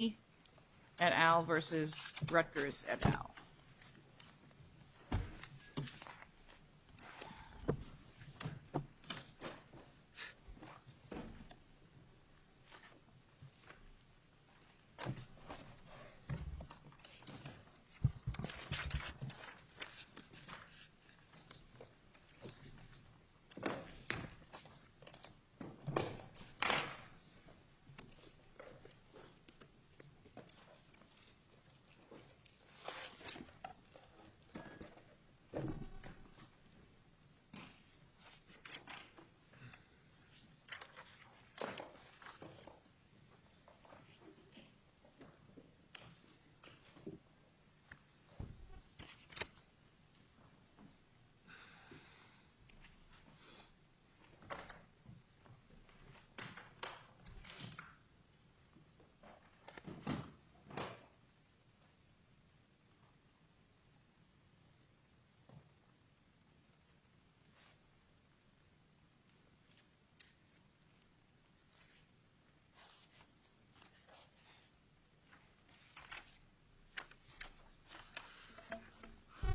and Al versus Rutgers and Al.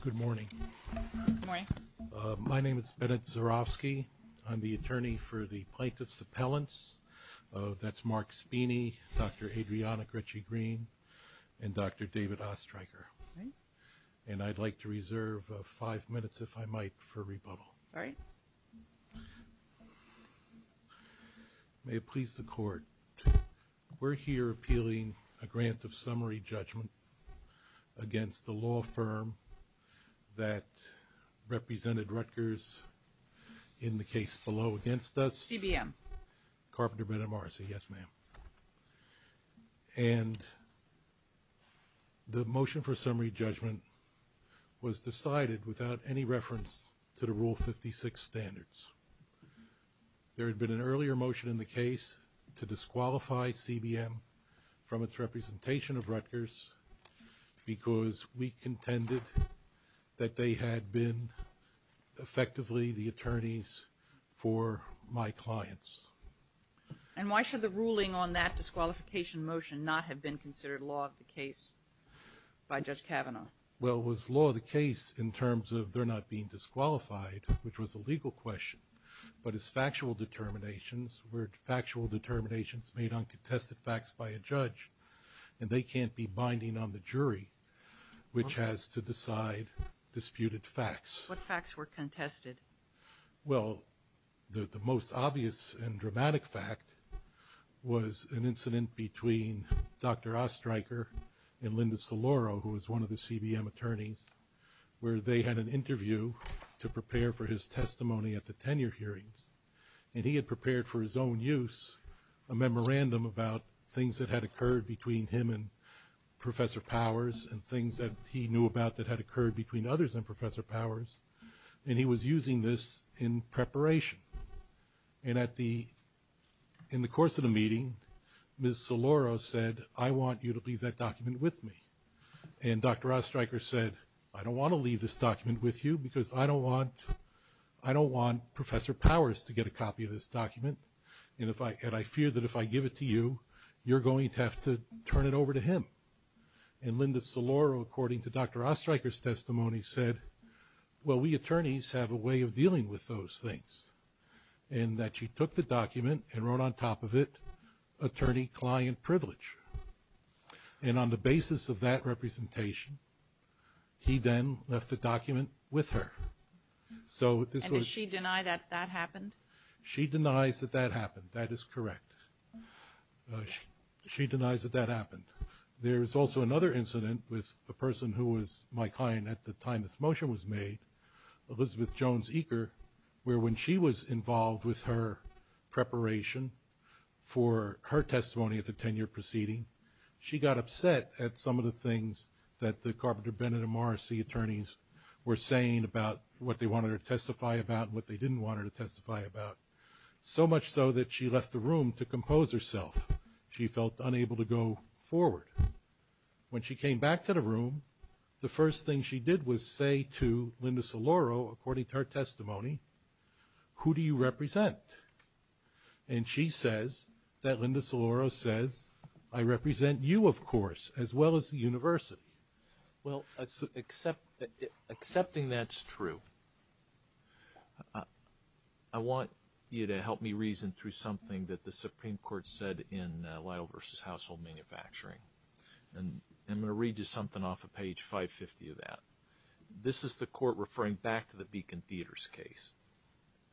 Good morning. My name is Bennett Zurofsky, I'm the attorney for the plaintiff's appellants. That's Mark Speeney, Dr. Adriana Gretschy-Green and Dr. David Ostreicher. And I'd like to reserve five minutes, if I might, for rebuttal. May it please the court, we're here appealing a grant of summary judgment against the law firm that represented Rutgers in the case below against us? CBM. Carpenter Bennett Morrissey, yes ma'am. And the motion for summary judgment was decided without any reference to the Rule 56 standards. There had been an earlier motion in the case to disqualify CBM from its representation of Rutgers because we contended that they had been effectively the attorneys for my clients. And why should the ruling on that disqualification motion not have been considered law of the case by Judge Kavanaugh? Well, was law the case in terms of they're not being disqualified, which was a legal question, but as factual determinations were factual determinations made on contested facts by a judge, and they can't be binding on the jury, which has to decide disputed facts. What facts were contested? Well, the most obvious and dramatic fact was an incident between Dr. Ostreicher and Linda Saloro, who was one of the CBM attorneys, where they had an interview to prepare for his testimony at the tenure hearings. And he had prepared for his own use a memorandum about things that had occurred between him and Professor Powers and things that he knew about that had occurred between others and Professor Powers. And he was using this in preparation. And in the course of the meeting, Ms. Saloro said, I want you to leave that document with me. And Dr. Ostreicher said, I don't want to leave this to Professor Powers to get a copy of this document. And I fear that if I give it to you, you're going to have to turn it over to him. And Linda Saloro, according to Dr. Ostreicher's testimony, said, well, we attorneys have a way of dealing with those things. And that she took the document and wrote on top of it, attorney client privilege. And on the basis of that representation, he then left the document with her. So did she deny that that happened? She denies that that happened. That is correct. She denies that that happened. There is also another incident with a person who was my client at the time this motion was made, Elizabeth Jones Eaker, where when she was involved with her preparation for her testimony at the tenure proceeding, she got upset at some of the things that the Carpenter, Bennett and Morrissey attorneys were saying about what they wanted her to testify about and what they didn't want her to testify about. So much so that she left the room to compose herself. She felt unable to go forward. When she came back to the room, the first thing she did was say to Linda Saloro, according to her testimony, who do you represent? And she says that Linda Saloro says, I represent you, of course, as well as the university. Well, except accepting that's true. I want you to help me reason through something that the Supreme Court said in Lytle versus Household Manufacturing. And I'm going to read you something off of page 550 of that. This is the court referring back to the Beacon Theaters case.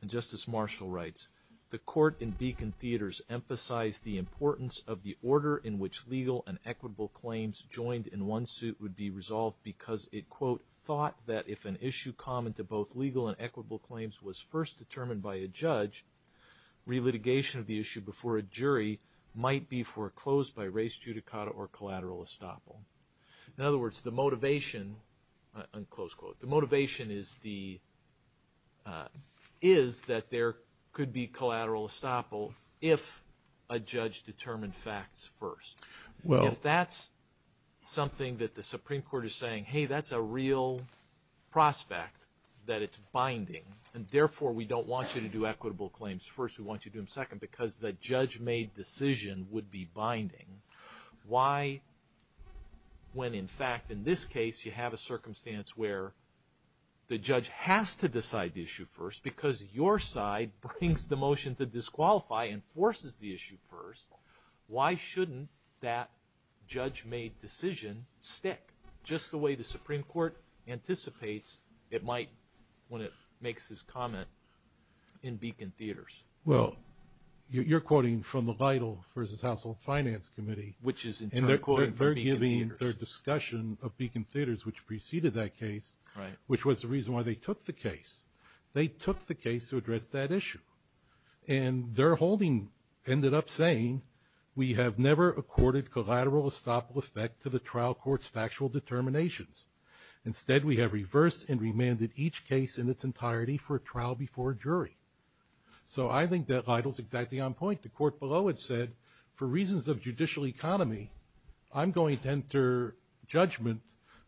And Justice Marshall writes, the court in Beacon Theaters emphasize the importance of the order in which legal and equitable claims joined in one suit would be resolved because it, quote, thought that if an issue common to both legal and equitable claims was first determined by a judge, relitigation of the issue before a jury might be foreclosed by race judicata or collateral estoppel. In other words, the motivation, unquote, the motivation is that there could be collateral estoppel if a judge determined facts first. If that's something that the Supreme Court is saying, hey, that's a real prospect that it's binding, and therefore we don't want you to do equitable claims first, we want you to do them second because the judge-made decision would be binding. Why, when in fact, in this case, you have a circumstance where the judge has to decide the issue first because your side brings the motion to disqualify and forces the issue first, why shouldn't that judge-made decision stick just the way the Supreme Court anticipates it might when it makes this comment in Beacon Theaters? Well, you're quoting from the Vital v. Household Finance Committee. Which is in turn quoting from Beacon Theaters. And they're giving their discussion of Beacon Theaters, which preceded that case, which was the reason why they took the case. They took the case to address that issue. And their holding ended up saying, we have never accorded collateral estoppel effect to the trial court's factual determinations. Instead, we have reversed and remanded each case in its entirety for a trial before a jury. So I think that Vital's exactly on point. The court below had said, for reasons of judicial economy, I'm going to enter judgment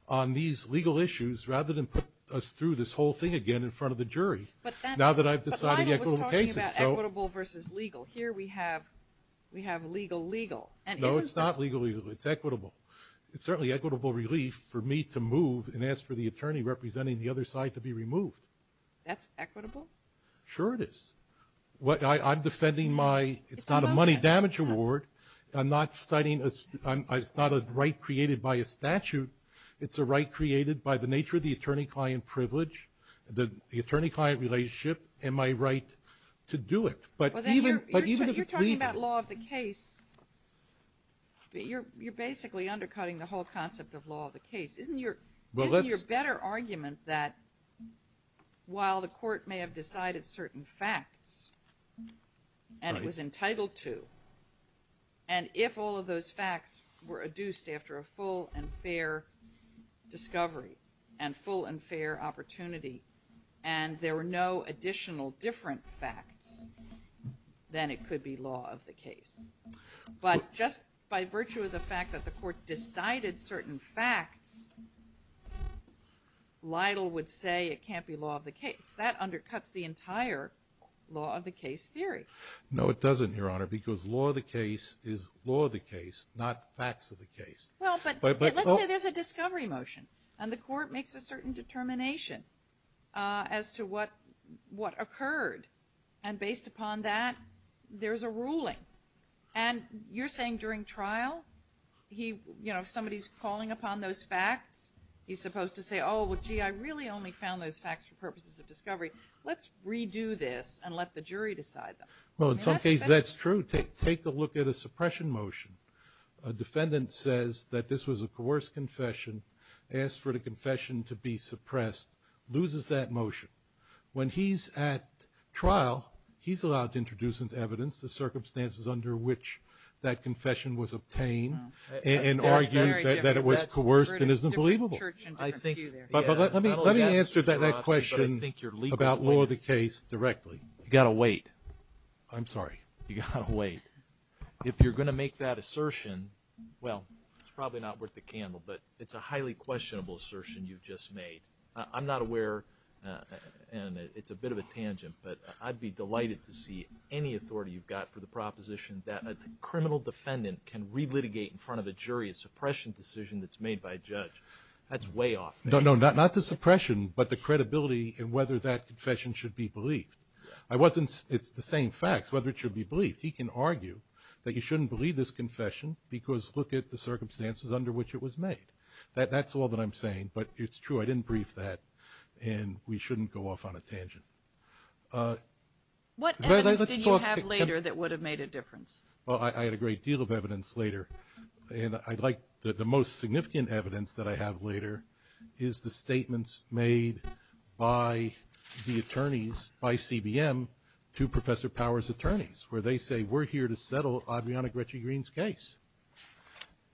on these legal issues rather than put us through this whole thing again in front of the jury. But now that I've decided equitable cases. But Vital was talking about equitable versus legal. Here we have legal-legal. No, it's not legal-legal. It's equitable. It's certainly equitable relief for me to move and ask for the attorney representing the other side to be removed. That's equitable? Sure it is. I'm defending my, it's not a money damage award. I'm not citing, it's not a right created by a statute. It's a right created by the nature of the attorney-client privilege, the attorney-client relationship, and my right to do it. But even if it's legal. You're talking about law of the case. You're basically undercutting the whole concept of law of the case. Isn't your better argument that while the court may have decided certain facts, and it was entitled to, and if all of those facts were adduced after a full and fair discovery, and full and fair opportunity, and there were no additional different facts, then it could be law of the case. But just by virtue of the fact that the court decided certain facts, Lytle would say it can't be law of the case. That undercuts the entire law of the case theory. No, it doesn't, Your Honor, because law of the case is law of the case, not facts of the case. Well, but let's say there's a discovery motion, and the court makes a certain determination as to what occurred, and based upon that, there's a ruling. And you're saying during trial, if somebody's calling upon those facts, he's supposed to say, oh, well, gee, I really only found those facts for purposes of discovery. Let's redo this and let the jury decide them. Well, in some cases that's true. Take a look at a suppression motion. A defendant says that this was a coerced confession, asked for the confession to be suppressed, loses that motion. When he's at trial, he says that the confession was obtained and argues that it was coerced and isn't believable. But let me answer that question about law of the case directly. You've got to wait. I'm sorry. You've got to wait. If you're going to make that assertion, well, it's probably not worth the candle, but it's a highly questionable assertion you've just made. I'm not aware, and it's a bit of a tangent, but I'd be delighted to in front of a jury a suppression decision that's made by a judge. That's way off. No, no, not the suppression, but the credibility and whether that confession should be believed. It's the same facts, whether it should be believed. He can argue that you shouldn't believe this confession because look at the circumstances under which it was made. That's all that I'm saying, but it's true. I didn't brief that, and we shouldn't go off on a tangent. What evidence did you have later that would have made a difference? Well, I had a great deal of evidence later, and I'd like that the most significant evidence that I have later is the statements made by the attorneys, by CBM, to Professor Power's attorneys, where they say, we're here to settle Adriana Gretschy-Green's case.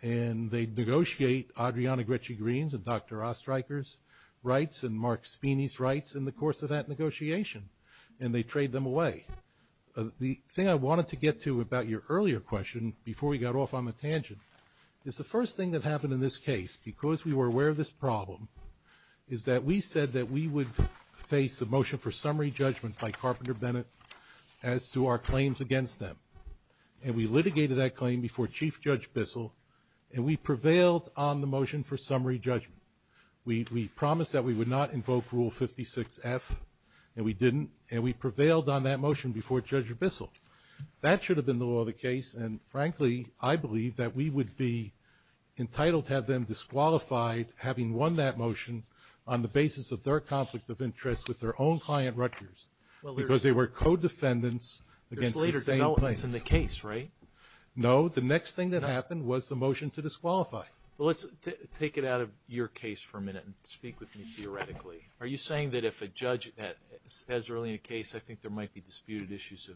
And they negotiate Adriana Gretschy-Green's and Dr. Ostreicher's rights and Mark Spinney's rights in the course of that earlier question, before we got off on the tangent, is the first thing that happened in this case, because we were aware of this problem, is that we said that we would face a motion for summary judgment by Carpenter Bennett as to our claims against them. And we litigated that claim before Chief Judge Bissell, and we prevailed on the motion for summary judgment. We promised that we would not invoke Rule 56F, and we didn't, and we prevailed on that motion before Judge Bissell. That should have been the law of the case, and frankly, I believe that we would be entitled to have them disqualified, having won that motion, on the basis of their conflict of interest with their own client Rutgers, because they were co-defendants against the same plaintiff. There's later developments in the case, right? No, the next thing that happened was the motion to disqualify. Well, let's take it out of your case for a minute and speak with me theoretically. Are you saying that if a judge has early in a case, I think there might be disputed issues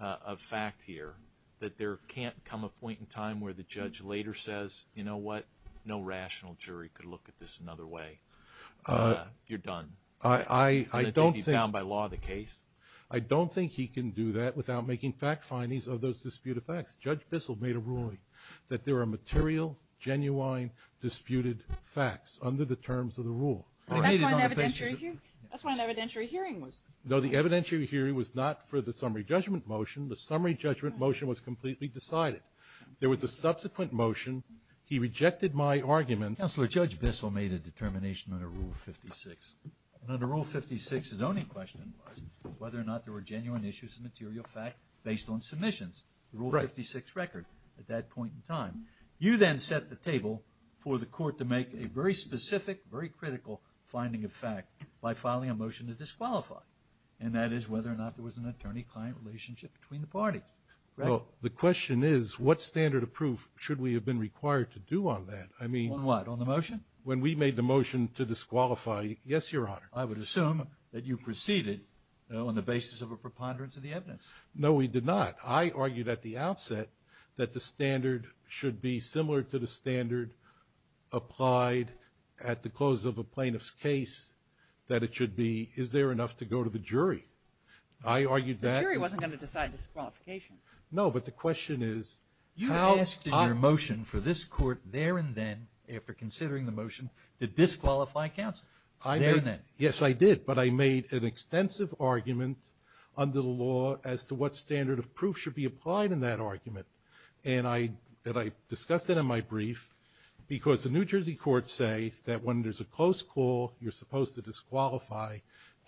of fact here, that there can't come a point in time where the judge later says, you know what, no rational jury could look at this another way, and you're done? I don't think he can do that without making fact findings of those disputed facts. Judge Bissell made a ruling that there are material, genuine, disputed facts under the terms of the rule. That's why an evidentiary hearing was... No, the evidentiary hearing was not for the summary judgment motion. The summary judgment motion was completely decided. There was a subsequent motion. He rejected my arguments... Counselor, Judge Bissell made a determination under Rule 56. And under Rule 56, his only question was whether or not there were genuine issues of material fact based on submissions, the Rule 56 record, at that point in time. You then set the table for the court to make a very And that is whether or not there was an attorney-client relationship between the party. The question is, what standard of proof should we have been required to do on that? I mean... On what? On the motion? When we made the motion to disqualify... Yes, Your Honor. I would assume that you proceeded on the basis of a preponderance of the evidence. No, we did not. I argued at the outset that the standard should be similar to the standard applied at the close of a plaintiff's case, that it should be, is there enough to go to the jury? I argued that... The jury wasn't going to decide disqualification. No, but the question is... You asked in your motion for this court there and then, after considering the motion, to disqualify counsel. There and then. Yes, I did. But I made an extensive argument under the law as to what standard of proof should be applied in that argument. And I discussed that in my brief, because the New Jersey courts say that when there's a close call, you're supposed to disqualify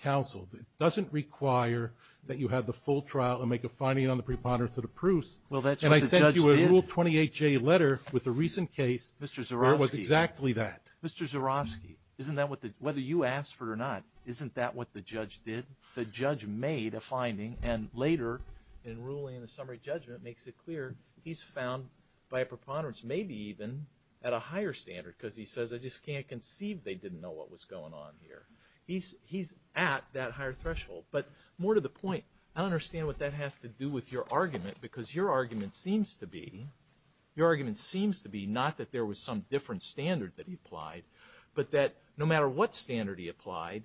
counsel. It doesn't require that you have the full trial and make a finding on the preponderance of the proofs. Well, that's what the judge did. And I sent you a Rule 28J letter with a recent case... Mr. Zurofsky. ...where it was exactly that. Mr. Zurofsky, isn't that what the... Whether you asked for it or not, isn't that what the judge did? The judge made a finding, and later in ruling in the summary judgment makes it clear he's found by a preponderance, maybe even at a higher standard, because he says, I just can't conceive they didn't know what was going on here. He's at that higher threshold. But more to the point, I don't understand what that has to do with your argument, because your argument seems to be... Your argument seems to be not that there was some different standard that he applied, but that no matter what standard he applied,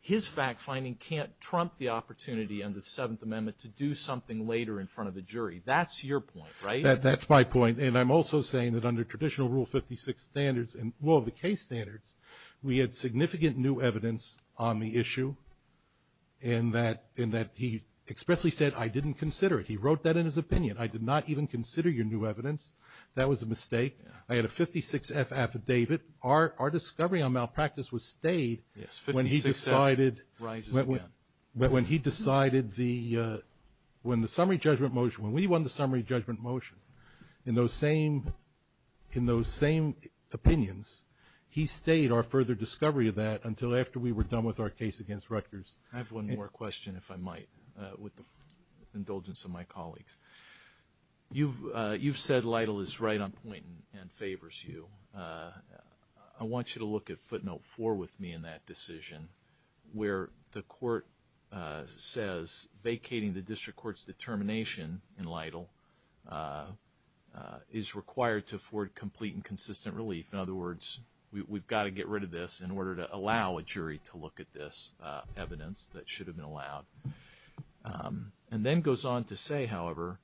his fact-finding can't trump the opportunity under the Seventh Amendment to do something later in front of the jury. That's your point, right? That's my point. And I'm also saying that under traditional Rule 56 standards and rule of the case standards, we had significant new evidence on the issue, and that he expressly said, I didn't consider it. He wrote that in his opinion. I did not even consider your new evidence. That was a mistake. I had a 56F affidavit. Our discovery on malpractice was stayed when he decided... Yes, 56F rises again. But when he decided the... When the summary judgment motion... When we won the summary judgment motion in those same opinions, he stayed our further discovery of that until after we were done with our case against Rutgers. I have one more question, if I might, with the indulgence of my colleagues. You've said Lytle is right on point and favors you. I want you to look at footnote four with me in that decision where the court says vacating the district court's determination in Lytle is required to afford complete and consistent relief. In other words, we've got to get rid of this in order to allow a jury to look at this evidence that should have been allowed. And then goes on to say, however,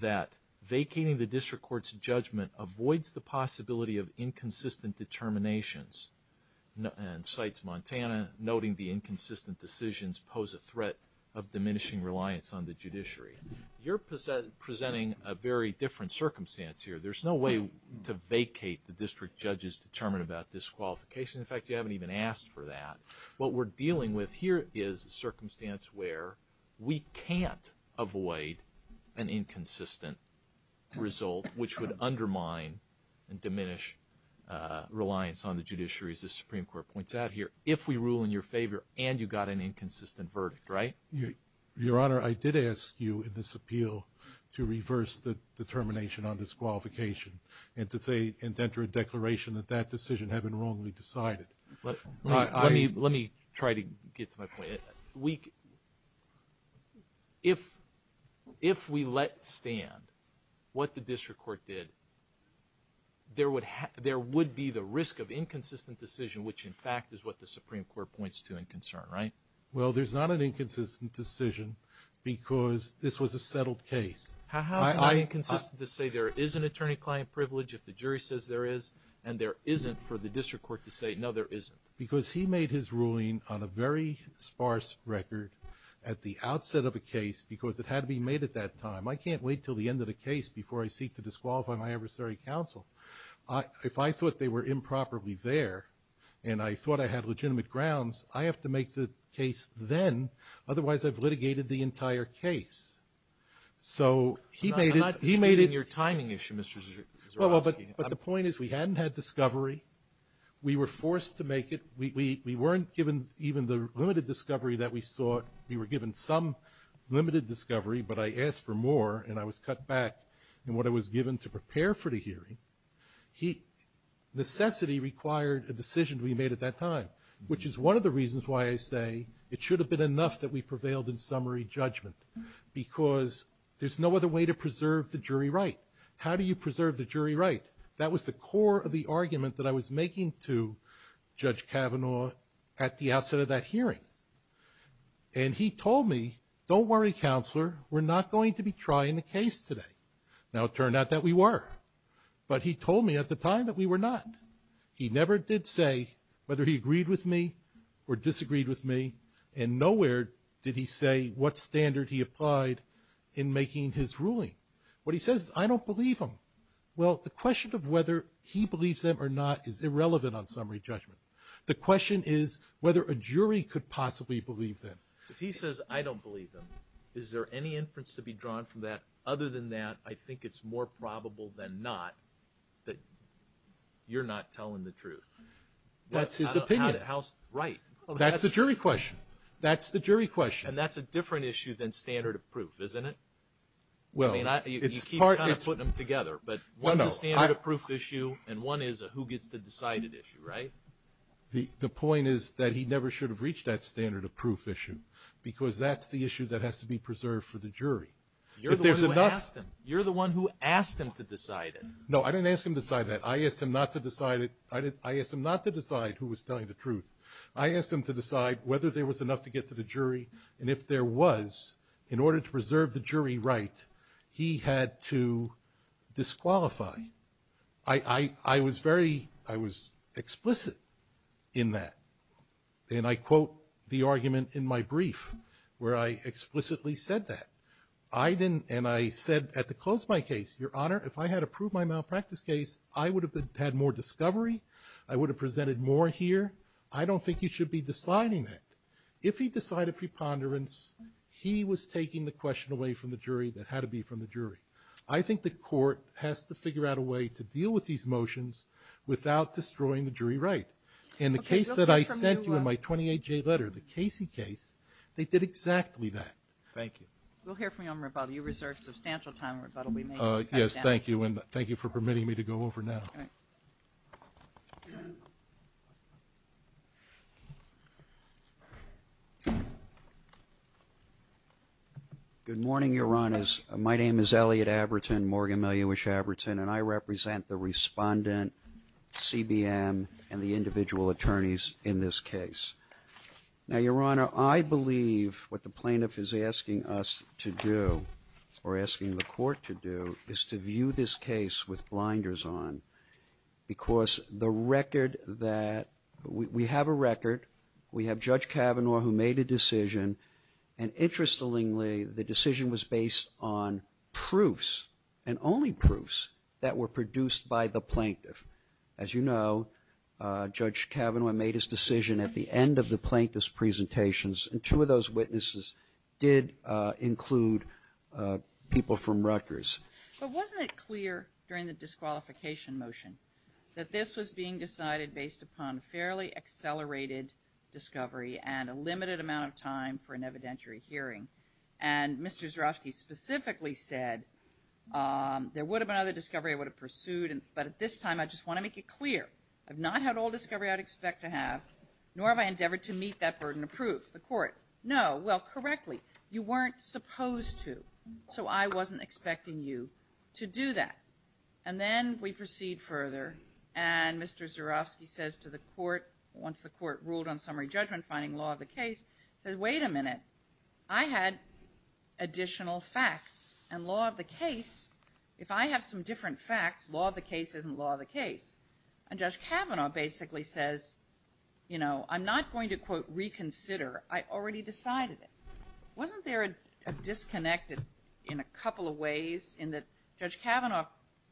that vacating the district court's inconsistent determinations, and cites Montana, noting the inconsistent decisions pose a threat of diminishing reliance on the judiciary. You're presenting a very different circumstance here. There's no way to vacate the district judge's determination about disqualification. In fact, you haven't even asked for that. What we're dealing with here is a circumstance where we can't avoid an inconsistent result, which would undermine and diminish reliance on the judiciary, as the Supreme Court points out here, if we rule in your favor and you got an inconsistent verdict, right? Your Honor, I did ask you in this appeal to reverse the determination on disqualification and to say and enter a declaration that that decision had been wrongly decided. Let me try to get to my point. If we let stand what the district court did, there would be the risk of inconsistent decision, which in fact is what the Supreme Court points to in concern, right? Well, there's not an inconsistent decision because this was a settled case. How is it not inconsistent to say there is an attorney-client privilege if the jury says there is and there isn't for the district court to say, no, there isn't? Because he made his ruling on a very sparse record at the outset of a case because it had to be made at that time. I can't wait until the end of the case before I seek to disqualify my adversary counsel. If I thought they were improperly there and I thought I had legitimate grounds, I have to make the case then. Otherwise, I've litigated the entire case. So he made it he timing issue. But the point is we hadn't had discovery. We were forced to make it. We weren't given even the limited discovery that we sought. We were given some limited discovery, but I asked for more and I was cut back in what I was given to prepare for the hearing. Necessity required a decision to be made at that time, which is one of the reasons why I say it should have been enough that we prevailed in summary judgment, because there's no other way to preserve the jury right. How do you preserve the jury right? That was the core of the argument that I was making to Judge Kavanaugh at the outset of that hearing. And he told me, don't worry, Counselor, we're not going to be trying a case today. Now it turned out that we were. But he told me at the time that we were not. He never did say whether he agreed with me or disagreed with me and nowhere did he say what standard he applied in making his ruling. What he says is I don't believe him. Well, the question of whether he believes them or not is irrelevant on summary judgment. The question is whether a jury could possibly believe that. If he says I don't believe them, is there any inference to be drawn from that? Other than that, I think it's more probable than not that you're not telling the truth. That's his opinion. Right. That's the jury question. That's the jury question. And that's a different issue than standard of proof, isn't it? Well, you keep kind of putting them together, but one is a standard of proof issue and one is a who gets the decided issue, right? The point is that he never should have reached that standard of proof issue because that's the issue that has to be preserved for the jury. You're the one who asked him to decide it. No, I didn't ask him to decide that. I asked him not to decide it. I asked him not to decide who was telling the truth. I asked him to decide whether there was enough to get to the jury and if there was, in order to preserve the jury right, he had to disqualify. I was very, I was explicit in that. And I quote the argument in my brief where I explicitly said that. I didn't, and I said at the close of my case, Your Honor, if I had approved my malpractice case, I would have had more discovery. I would have presented more here. I don't think you should be deciding that. If he decided preponderance, he was taking the question away from the jury that had to be from the jury. I think the court has to figure out a way to deal with these motions without destroying the jury right. In the case that I sent you in my 28-J letter, the Casey case, they did exactly that. Thank you. We'll hear from you on rebuttal. You reserve substantial time on rebuttal. Yes, thank you. And thank you for permitting me to go over now. Good morning, Your Honor. My name is Elliot Abertin, Morgan Miliewicz-Abertin, and I believe what the plaintiff is asking us to do, or asking the court to do, is to view this case with blinders on. Because the record that, we have a record, we have Judge Kavanaugh who made a decision, and interestingly, the decision was based on proofs, and only proofs, that were produced by the plaintiff. As you know, Judge Kavanaugh made his decision at the end of the plaintiff's presentations, and two of those witnesses did include people from Rutgers. But wasn't it clear during the disqualification motion that this was being decided based upon fairly accelerated discovery and a limited amount of time for an evidentiary hearing? And Mr. Zyrowski specifically said, there would have been other discovery I would have pursued, but at this time, I just want to make it clear, I've not had all discovery I'd expect to have, nor have I endeavored to meet that burden of proof. The court, no, well, correctly, you weren't supposed to. So I wasn't expecting you to do that. And then we proceed further, and Mr. Zyrowski says to the court, once the court ruled on summary judgment, finding law of the case, says, wait a minute, I had additional facts, and law of the case, if I have some different facts, law of the case isn't law of the case. And Judge Kavanaugh basically says, you know, I'm not going to, quote, reconsider, I already decided it. Wasn't there a disconnect in a couple of ways in that Judge Kavanaugh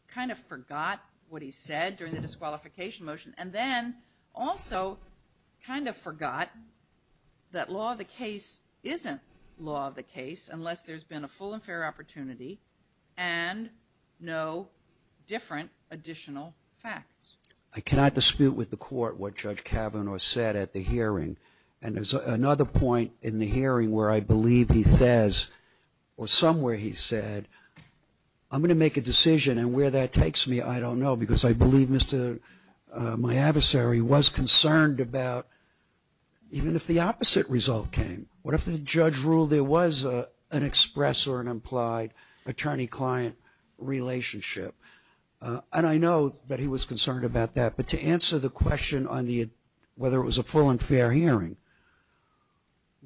kind of forgot what he said during the disqualification motion, and then also kind of forgot that law of the case isn't law of the case unless there's been a full and fair opportunity and no different additional facts? I cannot dispute with the court what Judge Kavanaugh said at the hearing. And there's another point in the hearing where I believe he says, or somewhere he said, I'm going to make a decision, and where that takes me, I don't know, because I believe my adversary was concerned about, even if the opposite result came, what if the judge ruled there was an express or an implied attorney-client relationship? And I know that he was concerned about that, but to answer the question on whether it was a full and fair hearing,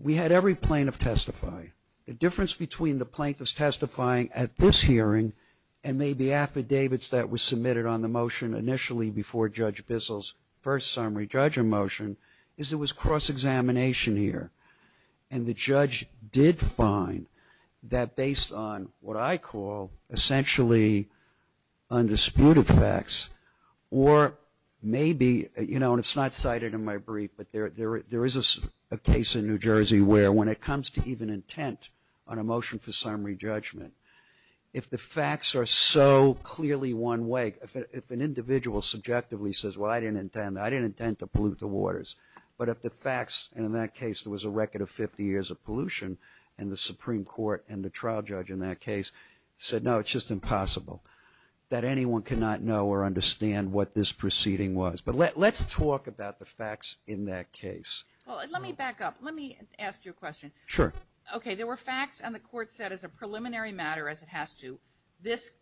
we had every plaintiff testify. The difference between the plaintiffs testifying at this hearing and maybe affidavits that were submitted on the motion initially before Judge Bissell's first summary judgment motion is it was cross-examination here. And the judge did find that based on what I call essentially undisputed facts, or maybe, you know, and it's not cited in my brief, but there is a case in New Jersey where when it comes to even intent on a motion for summary judgment, if the facts are so clearly one way, if an individual subjectively says, well, I didn't intend, I didn't intend to pollute the waters, but if the facts, and in that case, there was a record of 50 years of pollution, and the Supreme Court and the trial judge in that case said, no, it's just impossible, that anyone cannot know or understand what this proceeding was. But let's talk about the facts in that case. Well, let me back up. Let me ask you a question. Sure. Okay, there were facts and the court said as a preliminary matter, as it has to, this,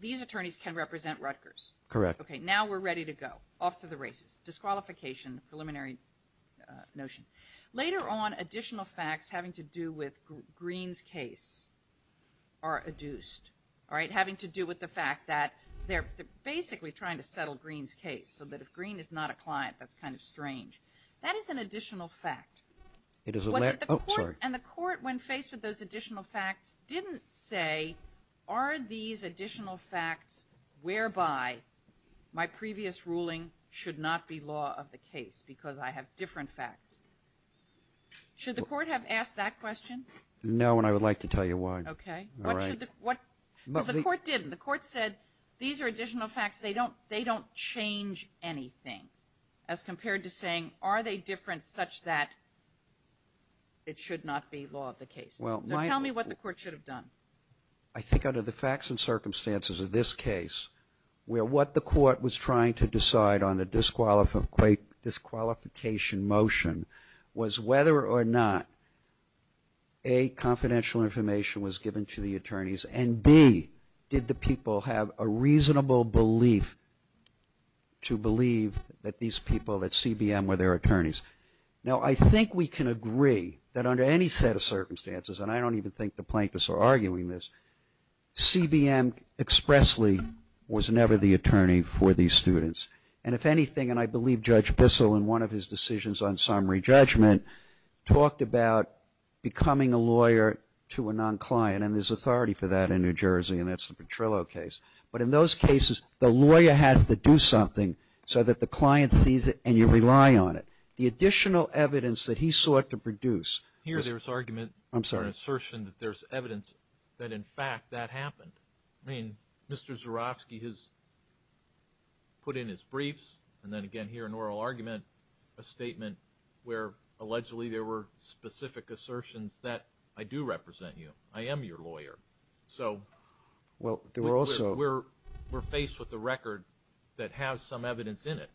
these attorneys can represent Rutgers. Correct. Okay, now we're ready to go, off to the races, disqualification, preliminary notion. Later on, additional facts having to do with Green's case are adduced, all right, having to do with the fact that they're basically trying to settle Green's case, so that if Green is not a client, that's kind of strange. That is an additional fact. It is. And the court, when faced with those additional facts, didn't say, are these additional facts whereby my previous ruling should not be law of the case, because I have different facts. Should the court have asked that question? No, and I would like to tell you why. Okay, what should the, what, because the court didn't. The court said, these are additional facts, they don't, they don't change anything, as compared to saying, are they different such that it should not be law of the case? Well, tell me what the court should have done. I think under the facts and circumstances of this case, where what the court was trying to decide on the disqualification motion was whether or not, A, confidential information was given to the attorneys, and B, did the people have a reasonable belief to believe that these people, that CBM were their attorneys? Now, I think we can agree that under any set of circumstances, and I don't even think the plaintiffs are arguing this, CBM expressly was never the attorney for these students. And if anything, and I believe Judge Bissell, in one of his decisions on summary judgment, talked about becoming a lawyer to a non-client, and there's authority for that in New Jersey, and that's the Petrillo case. But in those cases, the lawyer has to do something so that the client sees it and you rely on it. The additional evidence that he sought to produce. Here there's argument, I'm sorry, assertion that there's evidence that in fact that happened. I mean, Mr. Zurofsky has put in his briefs, and then again here an oral argument, a statement where allegedly there were specific assertions that I do represent you, I am your lawyer. So, we're faced with a record that has some evidence in it.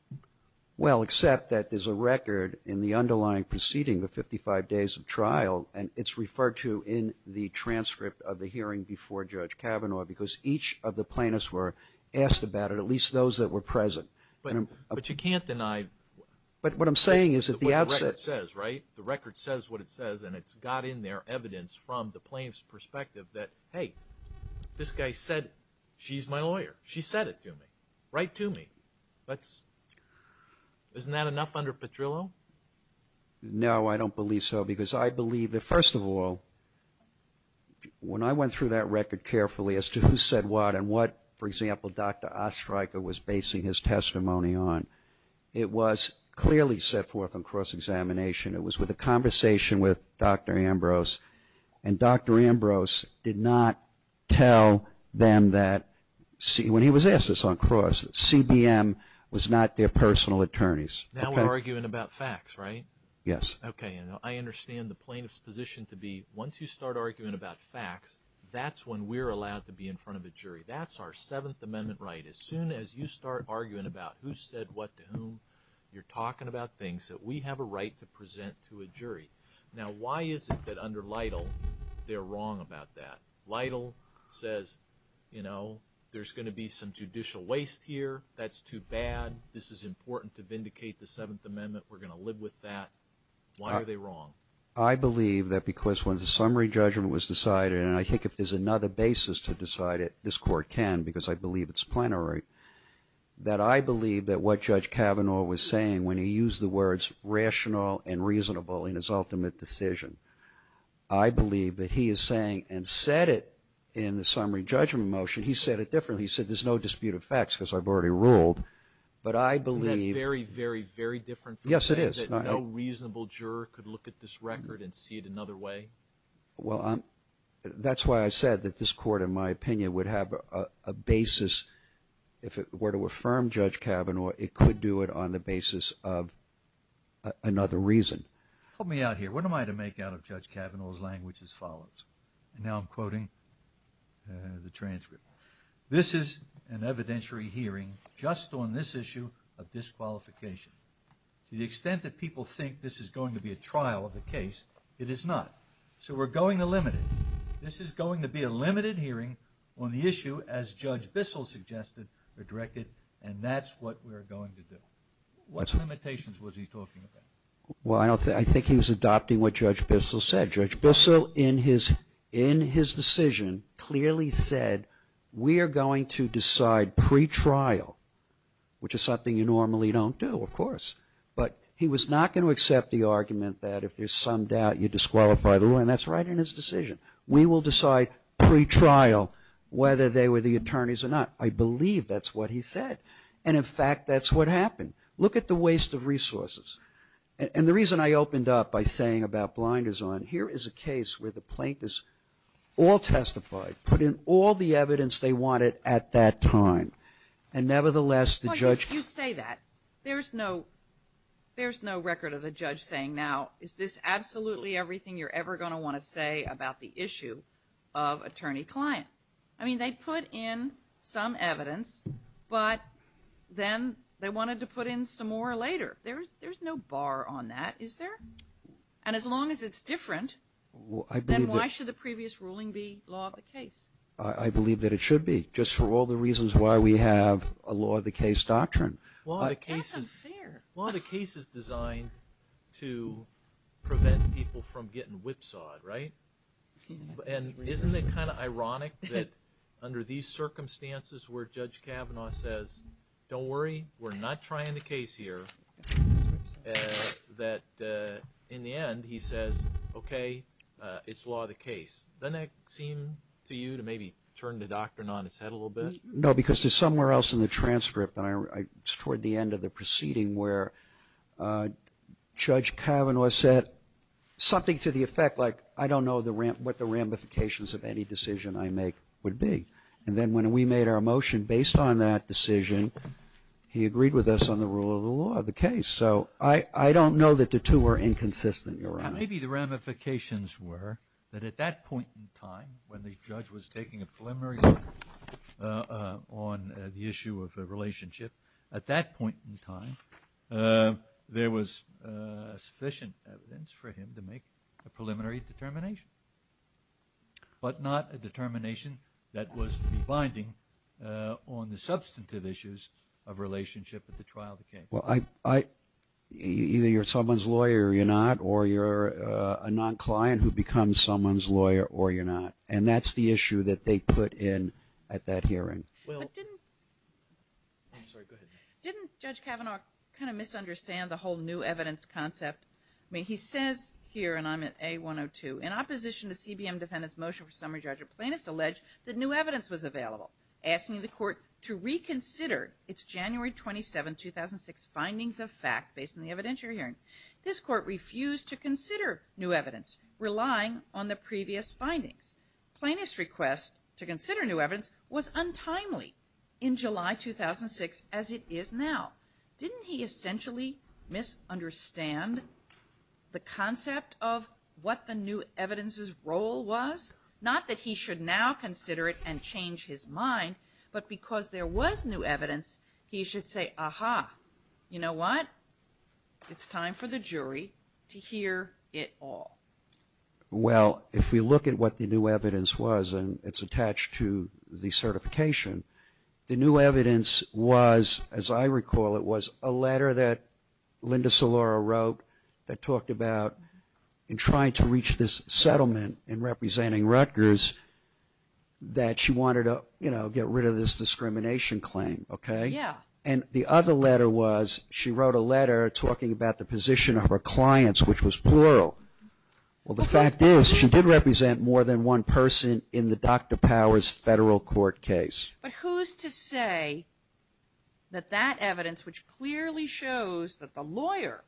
Well, except that there's a record in the underlying proceeding, the 55 days of trial, and it's referred to in the transcript of the hearing before Judge Kavanaugh, because each of the plaintiffs were asked about it, at least those that were present. But you can't deny... But what I'm saying is at the outset... The record says what it says, and it's got in there evidence from the plaintiff's perspective that, hey, this guy said she's my lawyer. She said it to me. Right to me. Isn't that enough under Petrillo? No, I don't believe so, because I believe that first of all, when I went through that record carefully as to who said what and what, for example, Dr. Ostreicher was basing his testimony on, it was clearly set forth on cross-examination. It was a conversation with Dr. Ambrose, and Dr. Ambrose did not tell them that, when he was asked this on cross, CBM was not their personal attorneys. Now we're arguing about facts, right? Yes. Okay, and I understand the plaintiff's position to be, once you start arguing about facts, that's when we're allowed to be in front of a jury. That's our Seventh Amendment right. As soon as you start Now, why is it that under Lytle, they're wrong about that? Lytle says, you know, there's going to be some judicial waste here. That's too bad. This is important to vindicate the Seventh Amendment. We're going to live with that. Why are they wrong? I believe that because when the summary judgment was decided, and I think if there's another basis to decide it, this Court can, because I believe it's plenary, that I believe that what Judge Kavanaugh was saying, when he used the words rational and reasonable in his ultimate decision, I believe that he is saying, and said it in the summary judgment motion, he said it differently. He said, there's no dispute of facts, because I've already ruled, but I believe... Isn't that very, very, very different? Yes, it is. No reasonable juror could look at this record and see it another way? Well, that's why I said that this Court, in my opinion, would have a basis. If it were to affirm Judge Kavanaugh, it could do it on the basis of another reason. Help me out here. What am I to make out of Judge Kavanaugh's language as follows? And now I'm quoting the transcript. This is an evidentiary hearing just on this issue of disqualification. To the extent that people think this is going to be a trial of the case, it is not. So we're going to limit it. This is going to be a limited hearing on the issue, as Judge Bissell suggested or directed, and that's what we're going to do. What limitations was he talking about? Well, I don't think... I think he was adopting what Judge Bissell said. Judge Bissell, in his decision, clearly said, we are going to decide pre-trial, which is something you normally don't do, of course. But he was not going to accept the argument that if there's some doubt you disqualify the lawyer, and that's right in his decision. We will decide pre-trial whether they were the attorneys or not. I believe that's what he said. And in fact, that's what happened. Look at the waste of resources. And the reason I opened up by saying about blinders on, here is a case where the plaintiffs all testified, put in all the evidence they wanted at that time. And nevertheless, the judge... But if you say that, there's no record of the judge saying, now, is this absolutely everything you're ever going to want to say about the issue of attorney-client? I mean, they put in some evidence, but then they wanted to put in some more later. There's no bar on that, is there? And as long as it's different, then why should the previous ruling be law of the case? I believe that it should be, just for all the reasons why we have a law of the case doctrine. Law of the case is designed to prevent people from getting whipsawed, right? And isn't it kind of ironic that under these circumstances where Judge Kavanaugh says, don't worry, we're not trying the case here, that in the end, he says, okay, it's law of the case. Doesn't that seem to you to maybe turn the doctrine on its head a little bit? No, because there's somewhere else in the transcript, and it's toward the end of the proceeding where Judge Kavanaugh said something to the effect like, I don't know what the ramifications of any decision I make would be. And then when we made our motion based on that decision, he agreed with us on the rule of the law of the case. So I don't know that the two were inconsistent, Your Honor. Maybe the ramifications were that at that point in time, when the judge was taking a preliminary look on the issue of the relationship, at that point in time, there was sufficient evidence for him to make a preliminary determination, but not a determination that was to be binding on the substantive issues of relationship at the trial of the case. Well, either you're someone's lawyer or you're not, or you're a non-client who becomes someone's client at that hearing. Didn't Judge Kavanaugh kind of misunderstand the whole new evidence concept? I mean, he says here, and I'm at A-102, in opposition to CBM defendant's motion for summary judgment, plaintiffs allege that new evidence was available, asking the court to reconsider its January 27, 2006 findings of fact based on the evidence you're hearing. This court refused to consider new evidence was untimely in July 2006 as it is now. Didn't he essentially misunderstand the concept of what the new evidence's role was? Not that he should now consider it and change his mind, but because there was new evidence, he should say, aha, you know what? It's time for the jury to hear it all. Well, if we look at what the new evidence was, and it's attached to the certification, the new evidence was, as I recall, it was a letter that Linda Solor wrote that talked about in trying to reach this settlement in representing Rutgers that she wanted to, you know, get rid of this discrimination claim, okay? Yeah. And the other letter was, she wrote a letter talking about the position of her clients, which was plural. Well, the fact is, she did represent more than one person in the Dr. Powers federal court case. But who's to say that that evidence, which clearly shows that the lawyer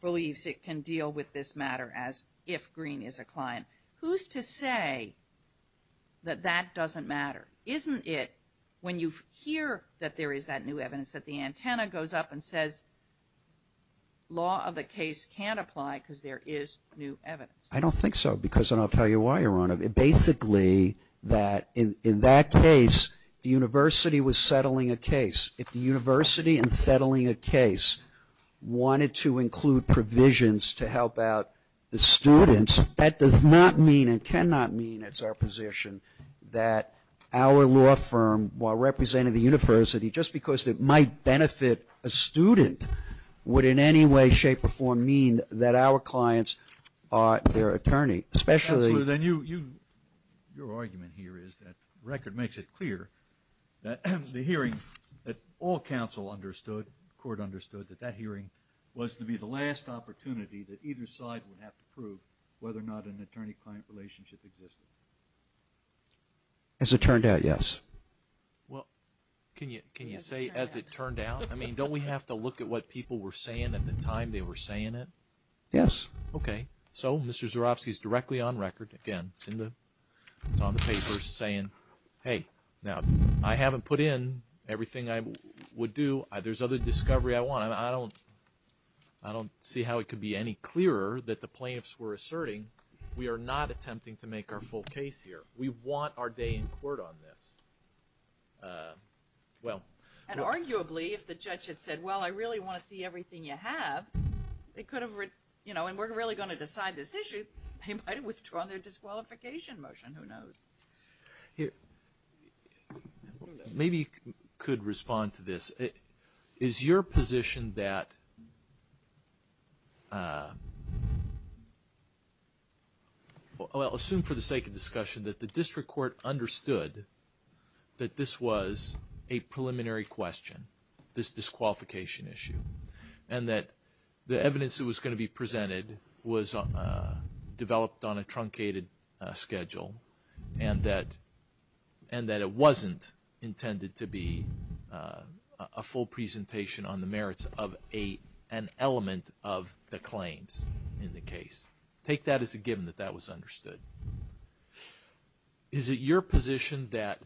believes it can deal with this matter as if Green is a client, who's to say that that doesn't matter? Isn't it when you hear that there is that new evidence that the antenna goes up and law of the case can apply because there is new evidence? I don't think so, because, and I'll tell you why, Your Honor, basically that in that case, the university was settling a case. If the university in settling a case wanted to include provisions to help out the students, that does not mean and cannot mean it's our position that our law firm, while representing the university, just because it might benefit a student, would in any way, shape, or form mean that our clients are their attorney, especially... Counselor, then your argument here is that record makes it clear that the hearing that all counsel understood, court understood, that that hearing was to be the last opportunity that either side would have to prove whether or not an attorney-client relationship existed. As it turned out, yes. Well, can you say as it turned out? I mean, don't we have to look at what people were saying at the time they were saying it? Yes. Okay. So, Mr. Zerovsky is directly on record again. It's on the papers saying, hey, now I haven't put in everything I would do. There's other discovery I want. I don't see how it could be any clearer that the plaintiffs were asserting we are not attempting to make our full case here. We want our day in court on this. Well... And arguably, if the judge had said, well, I really want to see everything you have, they could have, you know, and we're really going to decide this issue, they might have withdrawn their disqualification motion. Who knows? Here. Maybe you could respond to this. Is your position that... Well, I'll assume for the sake of discussion that the district court understood that this was a preliminary question, this disqualification issue, and that the evidence that was going to be presented was developed on a truncated schedule, and that it wasn't intended to be a full presentation on the merits of an element of the claims in the case? Take that as a given that that was understood. Is it your position that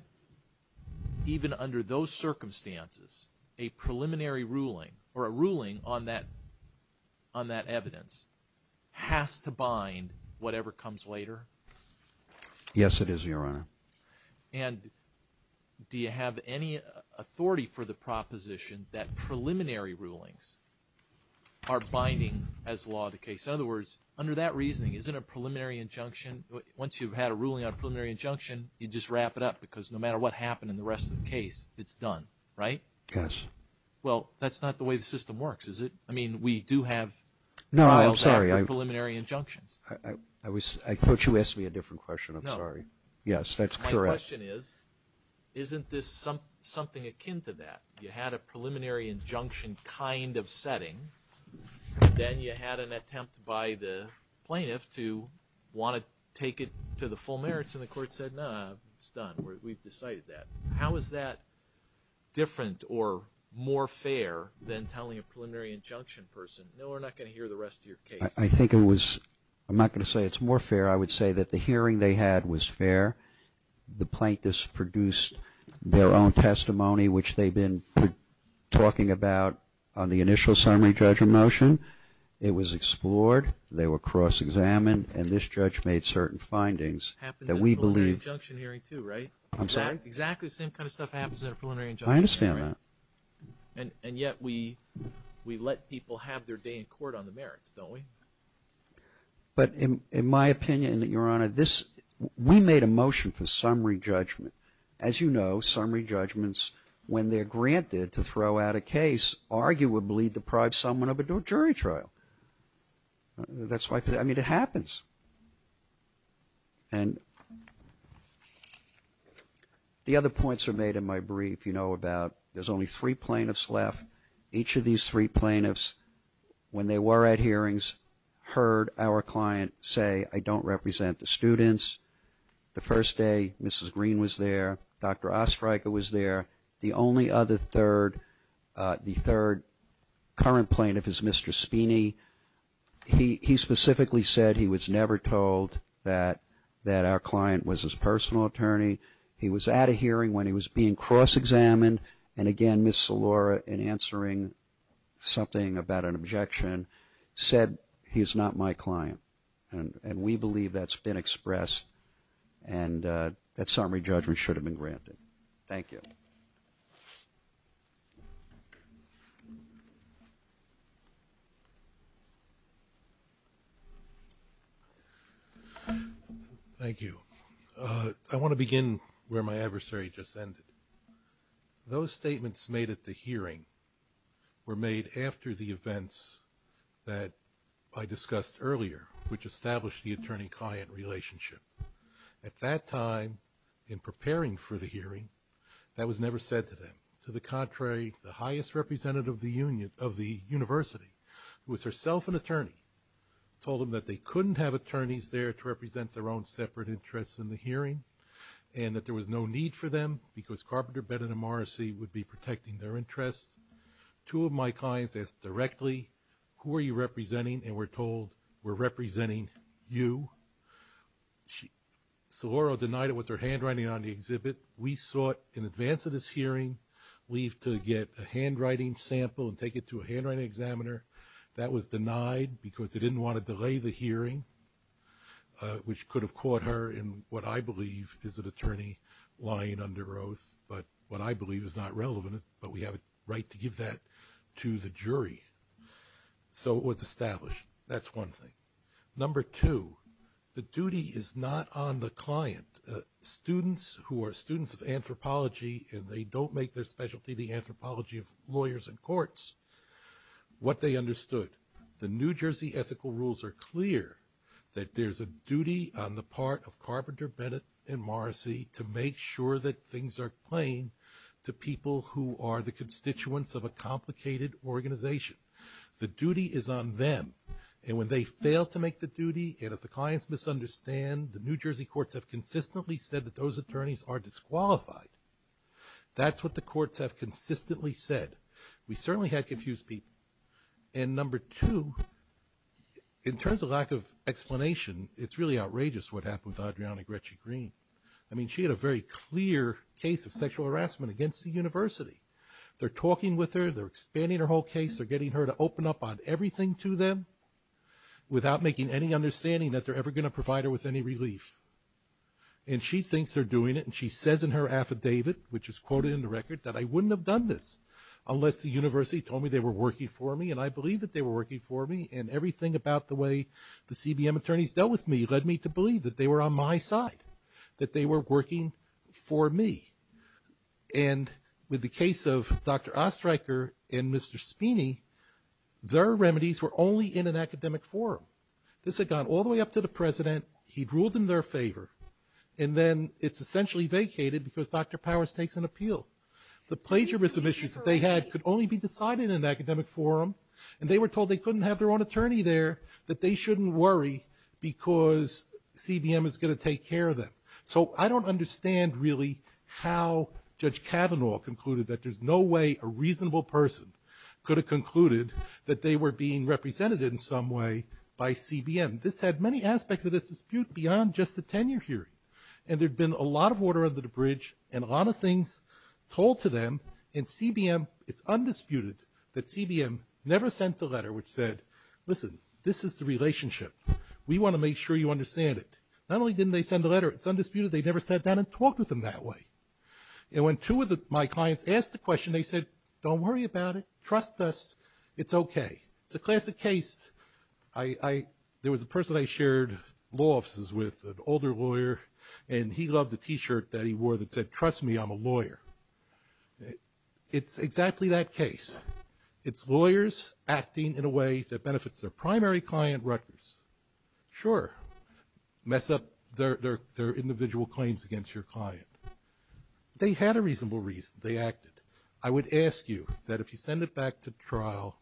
even under those circumstances, a preliminary ruling or a ruling on that evidence has to bind whatever comes later? Yes, it is, Your Honor. And do you have any authority for the proposition that preliminary rulings are binding as law the case? In other words, under that reasoning, isn't a preliminary injunction... Once you've had a ruling on a preliminary injunction, you just wrap it up because no matter what happened in the rest of the case, it's done, right? Yes. Well, that's not the way the system works, is it? I mean, we do have... No, I'm sorry. I thought you asked me a different question. I'm sorry. Yes, that's correct. My question is, isn't this something akin to that? You had a preliminary injunction kind of setting, then you had an attempt by the plaintiff to want to take it to the full and the court said, no, it's done. We've decided that. How is that different or more fair than telling a preliminary injunction person, no, we're not going to hear the rest of your case? I think it was... I'm not going to say it's more fair. I would say that the hearing they had was fair. The plaintiffs produced their own testimony, which they've been talking about on the initial summary judgment motion. It was explored. They were cross-examined and this judge made certain findings that we believe... Happens in a preliminary injunction hearing too, right? I'm sorry? Exactly the same kind of stuff happens in a preliminary injunction hearing. I understand that. And yet, we let people have their day in court on the merits, don't we? But in my opinion, Your Honor, we made a motion for summary judgment. As you know, summary judgments, when they're granted to throw out a case, arguably deprive someone of a jury trial. That's why... I mean, it happens. And the other points are made in my brief, you know, about there's only three plaintiffs left. Each of these three plaintiffs, when they were at hearings, heard our client say, I don't represent the students. The first day, Mrs. Green was there. Dr. Ostreicher was there. The only other third, the third current plaintiff is Mr. Spiney. He specifically said he was never told that our client was his personal attorney. He was at a hearing when he was being cross-examined. And again, Ms. Salora, in answering something about an objection, said, he's not my client. And we believe that's been expressed. And that summary judgment should have been granted. Thank you. Thank you. I want to begin where my adversary just ended. Those statements made at the hearing were made after the events that I discussed earlier, which established the attorney-client relationship. At that time, in preparing for the hearing, that was never said to them. To the contrary, the highest representative of the university, who was herself an attorney, told them that they couldn't have attorneys there to represent their own separate interests in the hearing, and that there was no need for them because Carpenter, Bennett, and Morrissey would be protecting their interests. Two of my clients asked directly, who are you representing? And we're told, we're representing you. Salora denied it was her handwriting on the exhibit. We sought, in advance of this hearing, leave to get a handwriting sample and take it to a handwriting examiner. That was denied because they didn't want to delay the hearing, which could have caught her in what I believe is an attorney lying under oath. But what I believe is not relevant, but we have a to the jury. So it was established. That's one thing. Number two, the duty is not on the client. Students who are students of anthropology, and they don't make their specialty the anthropology of lawyers and courts, what they understood. The New Jersey ethical rules are clear that there's a duty on the part of Carpenter, Bennett, and Morrissey to make sure that things are plain to people who are the constituents of a complicated organization. The duty is on them. And when they fail to make the duty, and if the clients misunderstand, the New Jersey courts have consistently said that those attorneys are disqualified. That's what the courts have consistently said. We certainly had confused people. And number two, in terms of lack of explanation, it's really outrageous what happened with Adriana Gretschy-Green. I mean, she had a very case of sexual harassment against the university. They're talking with her. They're expanding her whole case. They're getting her to open up on everything to them without making any understanding that they're ever going to provide her with any relief. And she thinks they're doing it. And she says in her affidavit, which is quoted in the record, that I wouldn't have done this unless the university told me they were working for me. And I believe that they were working for me. And everything about the way the CBM attorneys dealt with me led me to believe that they were on my side. They were working for me. And with the case of Dr. Ostreicher and Mr. Spiney, their remedies were only in an academic forum. This had gone all the way up to the president. He'd ruled in their favor. And then it's essentially vacated because Dr. Powers takes an appeal. The plagiarism issues that they had could only be decided in an academic forum. And they were told they couldn't have their own attorney there, that they shouldn't worry because CBM is going to take care of them. So I don't understand really how Judge Kavanaugh concluded that there's no way a reasonable person could have concluded that they were being represented in some way by CBM. This had many aspects of this dispute beyond just the tenure hearing. And there'd been a lot of water under the bridge and a lot of things told to them. And CBM, it's undisputed that CBM never sent a letter which said, listen, this is the relationship. We want to make sure you understand it. Not only didn't they send a letter, it's undisputed they never sat down and talked with them that way. And when two of my clients asked the question, they said, don't worry about it. Trust us. It's okay. It's a classic case. There was a person I shared law offices with, an older lawyer, and he loved the t-shirt that he wore that said, trust me, I'm a lawyer. It's exactly that case. It's lawyers acting in a way that benefits their primary client, Rutgers. Sure, mess up their individual claims against your client. They had a reasonable reason they acted. I would ask you that if you send it back to trial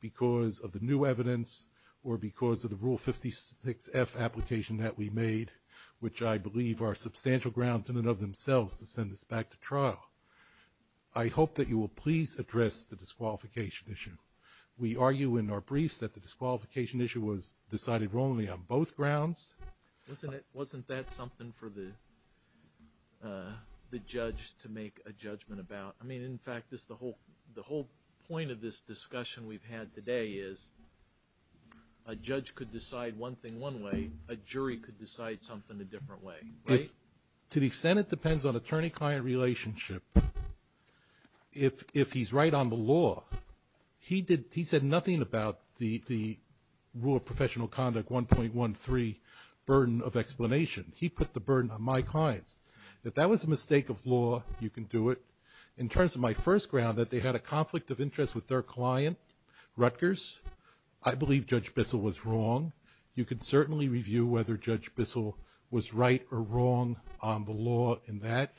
because of the new evidence or because of the Rule 56F application that we made, which I believe are substantial grounds in and of themselves to send this back to trial, I hope that you will please address the disqualification issue. We argue in our briefs that the disqualification issue was decided wrongly on both grounds. Wasn't that something for the judge to make a judgment about? I mean, in fact, the whole point of this discussion we've had today is a judge could decide one thing one way, a jury could decide something a different way. To the extent it depends on attorney-client relationship, if he's right on the law, he said nothing about the Rule of Professional Conduct 1.13 burden of explanation. He put the burden on my clients. If that was a mistake of law, you can do it. In terms of my first ground that they had a conflict of interest with their client, Rutgers, I believe Judge Bissell was wrong. You can certainly review whether Judge Bissell was right or wrong on the law in that.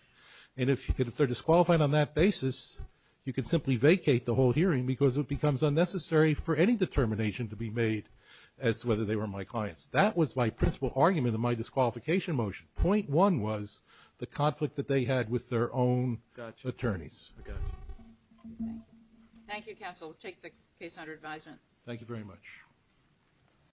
And if they're disqualified on that basis, you can simply vacate the whole hearing because it becomes unnecessary for any determination to be made as to whether they were my clients. That was my principal argument of my disqualification motion. Point one was the conflict that they had with their own attorneys. Thank you, counsel. Take the case under advisement. Thank you very much.